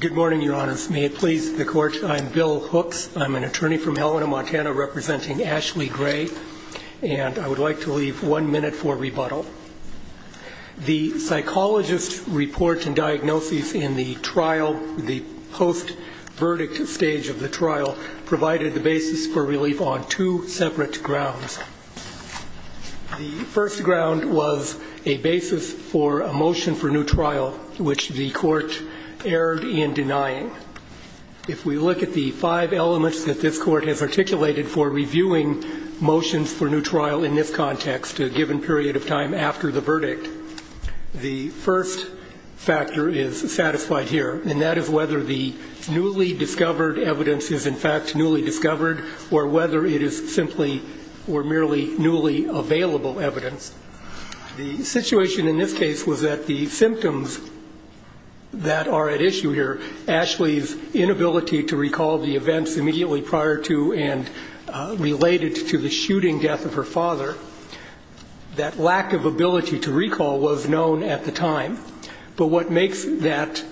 Good morning, Your Honors. May it please the Court, I'm Bill Hooks. I'm an attorney from Helena, Montana, representing Ashley Gray, and I would like to leave one minute for rebuttal. The psychologist's report and diagnoses in the trial, the post-verdict stage of the trial, provided the basis for relief on two separate grounds. The first ground was a basis for a motion for new trial, which the Court erred in denying. If we look at the five elements that this Court has articulated for reviewing motions for new trial in this context, a given period of time after the verdict, the first factor is satisfied here, and that is whether the newly discovered evidence is in fact newly discovered or whether it is simply or merely newly available evidence. The situation in this case was that the symptoms that are at issue here, Ashley's inability to recall the events immediately prior to and related to the shooting death of her father, that lack of ability to recall was known at the time. But what makes that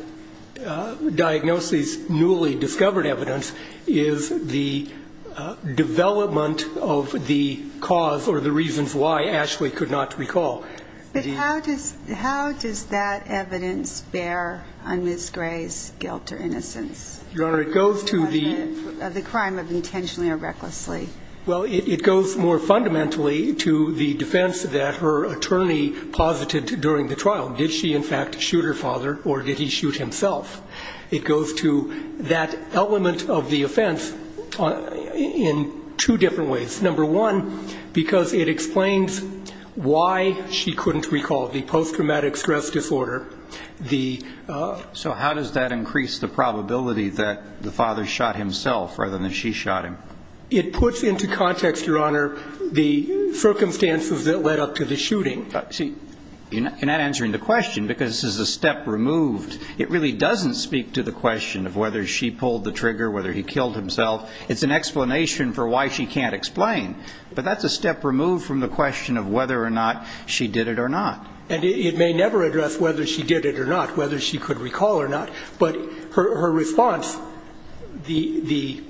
diagnosis newly discovered evidence is the development of the cause or the reasons why Ashley could not recall. But how does that evidence bear on Ms. Gray's guilt or innocence? Your Honor, it goes to the – The crime of intentionally or recklessly. Well, it goes more fundamentally to the defense that her attorney posited during the trial. Did she in fact shoot her father or did he shoot himself? It goes to that element of the offense in two different ways. Number one, because it explains why she couldn't recall the post-traumatic stress disorder. So how does that increase the probability that the father shot himself rather than she shot him? It puts into context, Your Honor, the circumstances that led up to the shooting. See, you're not answering the question because this is a step removed. It really doesn't speak to the question of whether she pulled the trigger, whether he killed himself. It's an explanation for why she can't explain. But that's a step removed from the question of whether or not she did it or not. And it may never address whether she did it or not, whether she could recall or not. But her response, the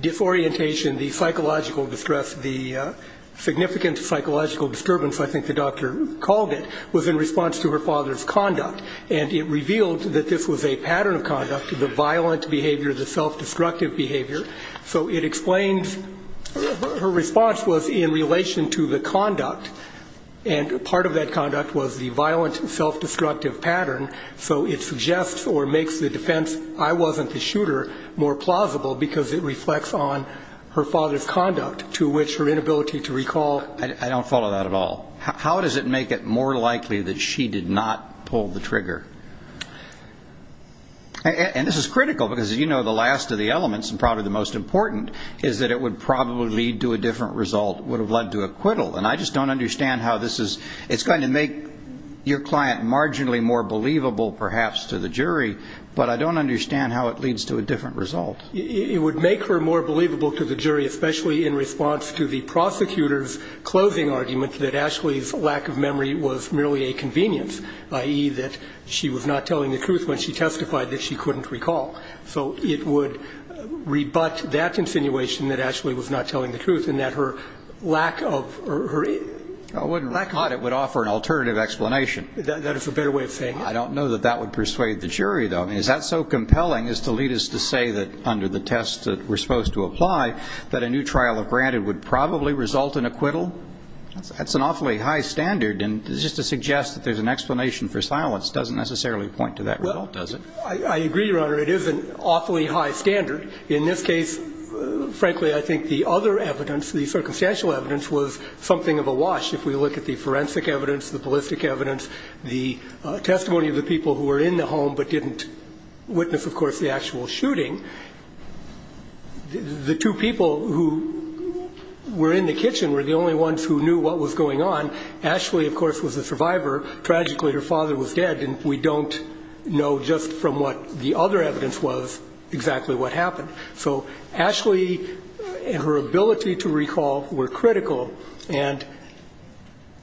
disorientation, the psychological distress, the significant psychological disturbance, I think the doctor called it, was in response to her father's conduct. And it revealed that this was a pattern of conduct, the violent behavior, the self-destructive behavior. So it explains – her response was in relation to the conduct. And part of that conduct was the violent, self-destructive pattern. So it suggests or makes the defense, I wasn't the shooter, more plausible because it reflects on her father's conduct to which her inability to recall. I don't follow that at all. How does it make it more likely that she did not pull the trigger? And this is critical because, as you know, the last of the elements and probably the most important is that it would probably lead to a different result, would have led to acquittal. And I just don't understand how this is – it's going to make your client marginally more believable, perhaps, to the jury, but I don't understand how it leads to a different result. It would make her more believable to the jury, especially in response to the prosecutor's closing argument that Ashley's lack of memory was merely a convenience, i.e., that she was not telling the truth when she testified that she couldn't recall. So it would rebut that insinuation that Ashley was not telling the truth and that her lack of – her lack of memory. I wouldn't have thought it would offer an alternative explanation. That is a better way of saying it. I don't know that that would persuade the jury, though. I mean, is that so compelling as to lead us to say that under the test that we're supposed to apply that a new trial of granted would probably result in acquittal? That's an awfully high standard, and just to suggest that there's an explanation for silence doesn't necessarily point to that result, does it? Well, I agree, Your Honor. It is an awfully high standard. In this case, frankly, I think the other evidence, the circumstantial evidence, was something of a wash. If we look at the forensic evidence, the ballistic evidence, the testimony of the people who were in the home but didn't witness, of course, the actual shooting. The two people who were in the kitchen were the only ones who knew what was going on. Ashley, of course, was the survivor. Tragically, her father was dead, and we don't know just from what the other evidence was exactly what happened. So Ashley and her ability to recall were critical. And,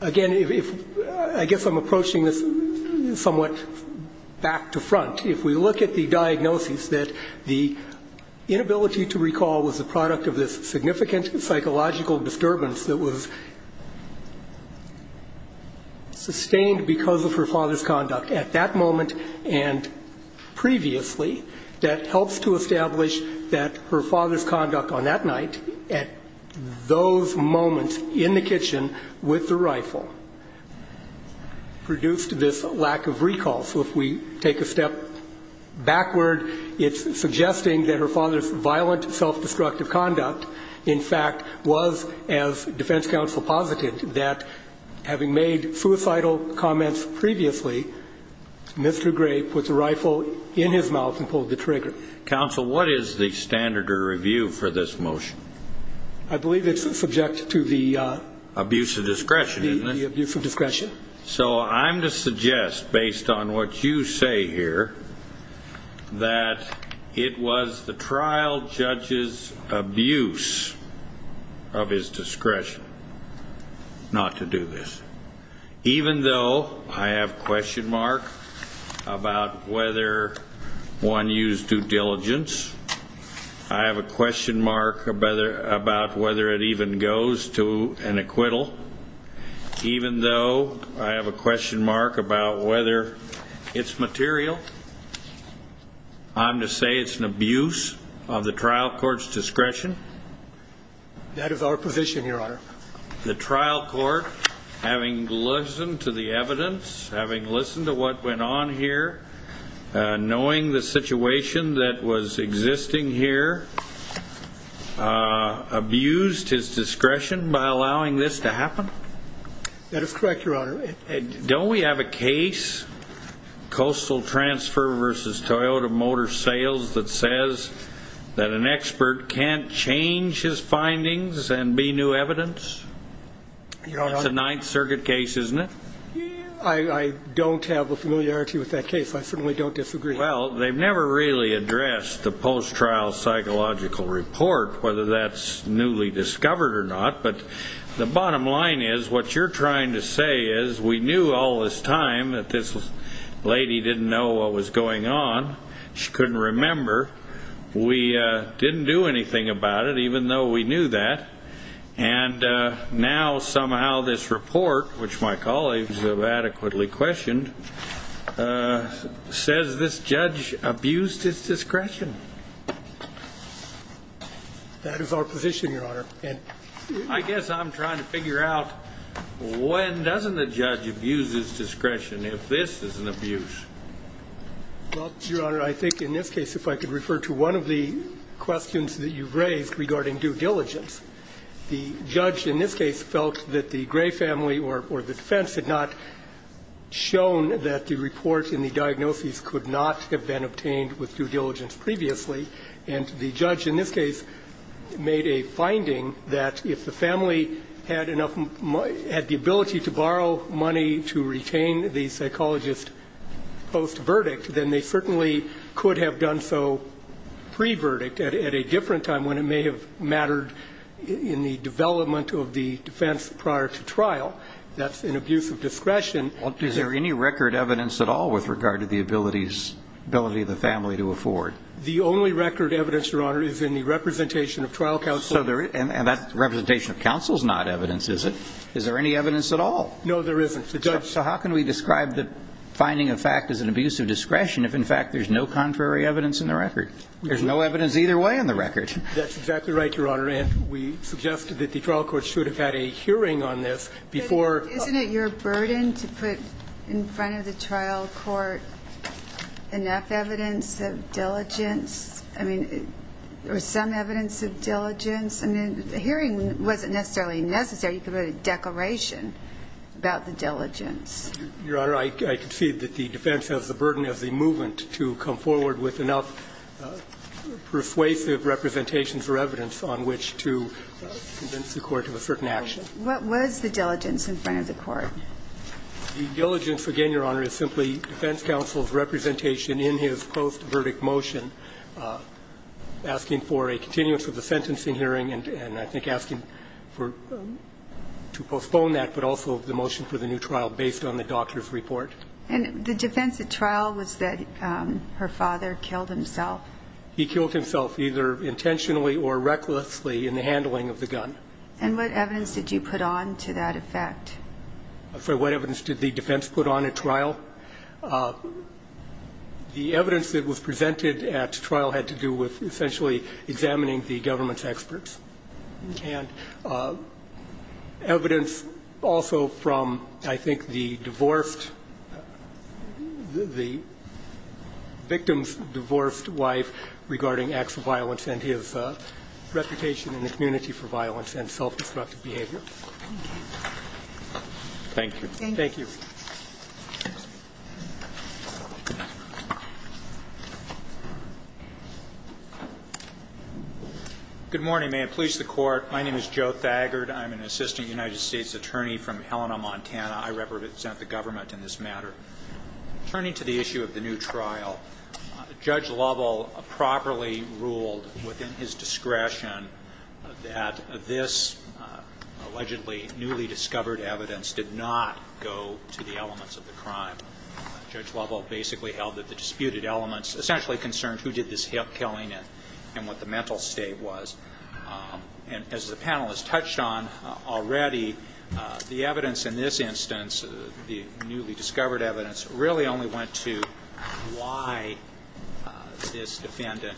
again, I guess I'm approaching this somewhat back to front. If we look at the diagnosis that the inability to recall was the product of this significant psychological disturbance that was sustained because of her father's conduct at that moment and previously, that helps to establish that her father's conduct on that night, at those moments in the kitchen with the rifle, produced this lack of recall. So if we take a step backward, it's suggesting that her father's violent, self-destructive conduct, in fact, was, as defense counsel posited, that having made suicidal comments previously, Mr. Gray put the rifle in his mouth and pulled the trigger. Counsel, what is the standard of review for this motion? I believe it's subject to the abuse of discretion. The abuse of discretion. So I'm to suggest, based on what you say here, that it was the trial judge's abuse of his discretion not to do this. Even though I have a question mark about whether one used due diligence, I have a question mark about whether it even goes to an acquittal. Even though I have a question mark about whether it's material, I'm to say it's an abuse of the trial court's discretion. That is our provision, Your Honor. The trial court, having listened to the evidence, having listened to what went on here, knowing the situation that was existing here, abused his discretion by allowing this to happen? That is correct, Your Honor. Don't we have a case, Coastal Transfer v. Toyota Motor Sales, that says that an expert can't change his findings and be new evidence? That's a Ninth Circuit case, isn't it? I don't have a familiarity with that case. I certainly don't disagree. Well, they've never really addressed the post-trial psychological report, whether that's newly discovered or not. But the bottom line is, what you're trying to say is, we knew all this time that this lady didn't know what was going on. She couldn't remember. We didn't do anything about it, even though we knew that. And now somehow this report, which my colleagues have adequately questioned, says this judge abused his discretion. That is our position, Your Honor. I guess I'm trying to figure out, when doesn't a judge abuse his discretion if this is an abuse? Well, Your Honor, I think in this case, if I could refer to one of the questions that you've raised regarding due diligence, the judge in this case felt that the Gray family or the defense had not shown that the report and the diagnoses could not have been obtained with due diligence previously. And the judge in this case made a finding that if the family had the ability to borrow money to retain the psychologist post-verdict, then they certainly could have done so pre-verdict at a different time when it may have been a different trial. That's an abuse of discretion. Is there any record evidence at all with regard to the ability of the family to afford? The only record evidence, Your Honor, is in the representation of trial counsel. And that representation of counsel is not evidence, is it? Is there any evidence at all? No, there isn't. So how can we describe the finding of fact as an abuse of discretion if, in fact, there's no contrary evidence in the record? There's no evidence either way in the record. That's exactly right, Your Honor. And we suggested that the trial court should have had a hearing on this before Isn't it your burden to put in front of the trial court enough evidence of diligence or some evidence of diligence? I mean, the hearing wasn't necessarily necessary. You could have had a declaration about the diligence. Your Honor, I concede that the defense has the burden of the movement to come forward with enough persuasive representations or evidence on which to convince the court of a certain action. What was the diligence in front of the court? The diligence, again, Your Honor, is simply defense counsel's representation in his post-verdict motion asking for a continuance of the sentencing hearing and I think asking for to postpone that, but also the motion for the new trial based on the doctor's report. And the defense at trial was that her father killed himself. He killed himself either intentionally or recklessly in the handling of the gun. And what evidence did you put on to that effect? What evidence did the defense put on at trial? The evidence that was presented at trial had to do with essentially examining the government's experts. And evidence also from, I think, the divorced, the victim's divorced wife regarding acts of violence and his reputation in the community for violence and self-destructive behavior. Thank you. Thank you. Thank you. Good morning. May it please the court, my name is Joe Thagard. I'm an assistant United States attorney from Helena, Montana. I represent the government in this matter. Turning to the issue of the new trial, Judge Lovell properly ruled within his of the crime. Judge Lovell basically held that the disputed elements essentially concerned who did this killing and what the mental state was. And as the panelists touched on already, the evidence in this instance, the newly discovered evidence, really only went to why this defendant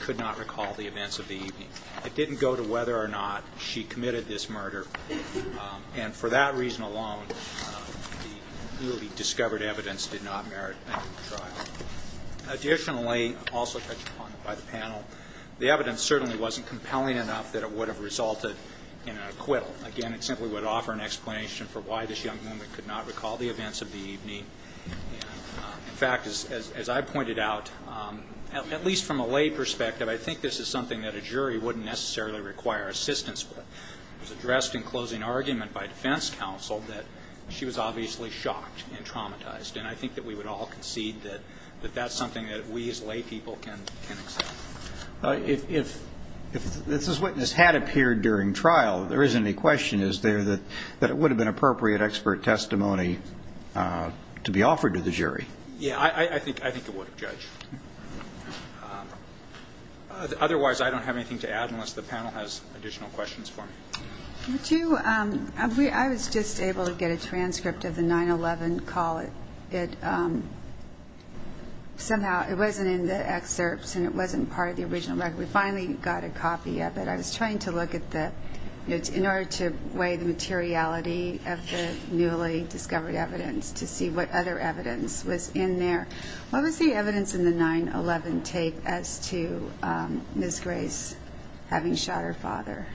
could not recall the events of the evening. It didn't go to whether or not she committed this murder. And for that reason alone, the newly discovered evidence did not merit a new trial. Additionally, also touched upon by the panel, the evidence certainly wasn't compelling enough that it would have resulted in an acquittal. Again, it simply would offer an explanation for why this young woman could not recall the events of the evening. In fact, as I pointed out, at least from a lay perspective, I think this is something that a jury wouldn't necessarily require assistance with. It was addressed in closing argument by defense counsel that she was obviously shocked and traumatized. And I think that we would all concede that that's something that we as lay people can accept. If this witness had appeared during trial, there isn't any question, is there, that it would have been appropriate expert testimony to be offered to the jury? Yeah, I think it would have, Judge. Otherwise, I don't have anything to add unless the panel has additional questions for me. Would you, I was just able to get a transcript of the 9-11 call. It somehow, it wasn't in the excerpts and it wasn't part of the original record. We finally got a copy of it. I was trying to look at the, in order to weigh the materiality of the newly discovered evidence to see what other evidence was in there. What was the evidence in the 9-11 tape as to Ms. Gray's having shot her father?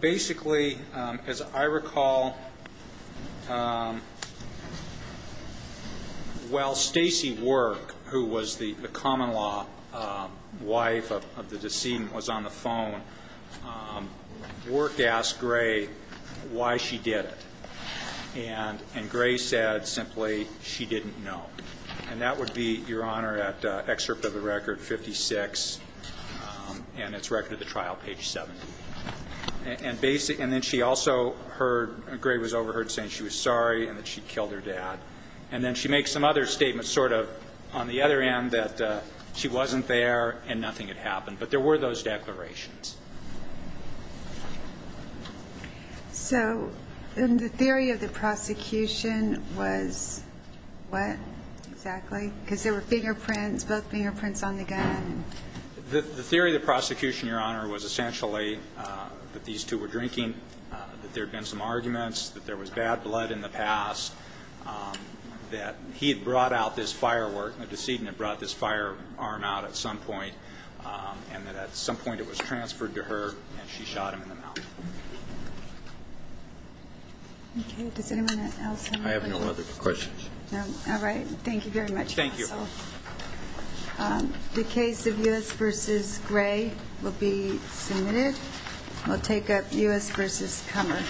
Basically, as I recall, while Stacy Work, who was the common law wife of the decedent, was on the phone, Work asked Gray why she did it. And Gray said simply, she didn't know. And that would be, Your Honor, at excerpt of the record 56 and its record of the trial, page 7. And then she also heard, Gray was overheard saying she was sorry and that she killed her dad. And then she makes some other statements sort of on the other end that she wasn't there and nothing had happened. But there were those declarations. So the theory of the prosecution was what exactly? Because there were fingerprints, both fingerprints on the gun. The theory of the prosecution, Your Honor, was essentially that these two were drinking, that there had been some arguments, that there was bad blood in the past, that he had brought out this firework, the decedent had brought this firearm out at some point, and that at some point it was transported. And it was transferred to her, and she shot him in the mouth. Okay. Does anyone else have any questions? I have no other questions. All right. Thank you very much, counsel. Thank you. The case of U.S. v. Gray will be submitted. We'll take up U.S. v. Kummer.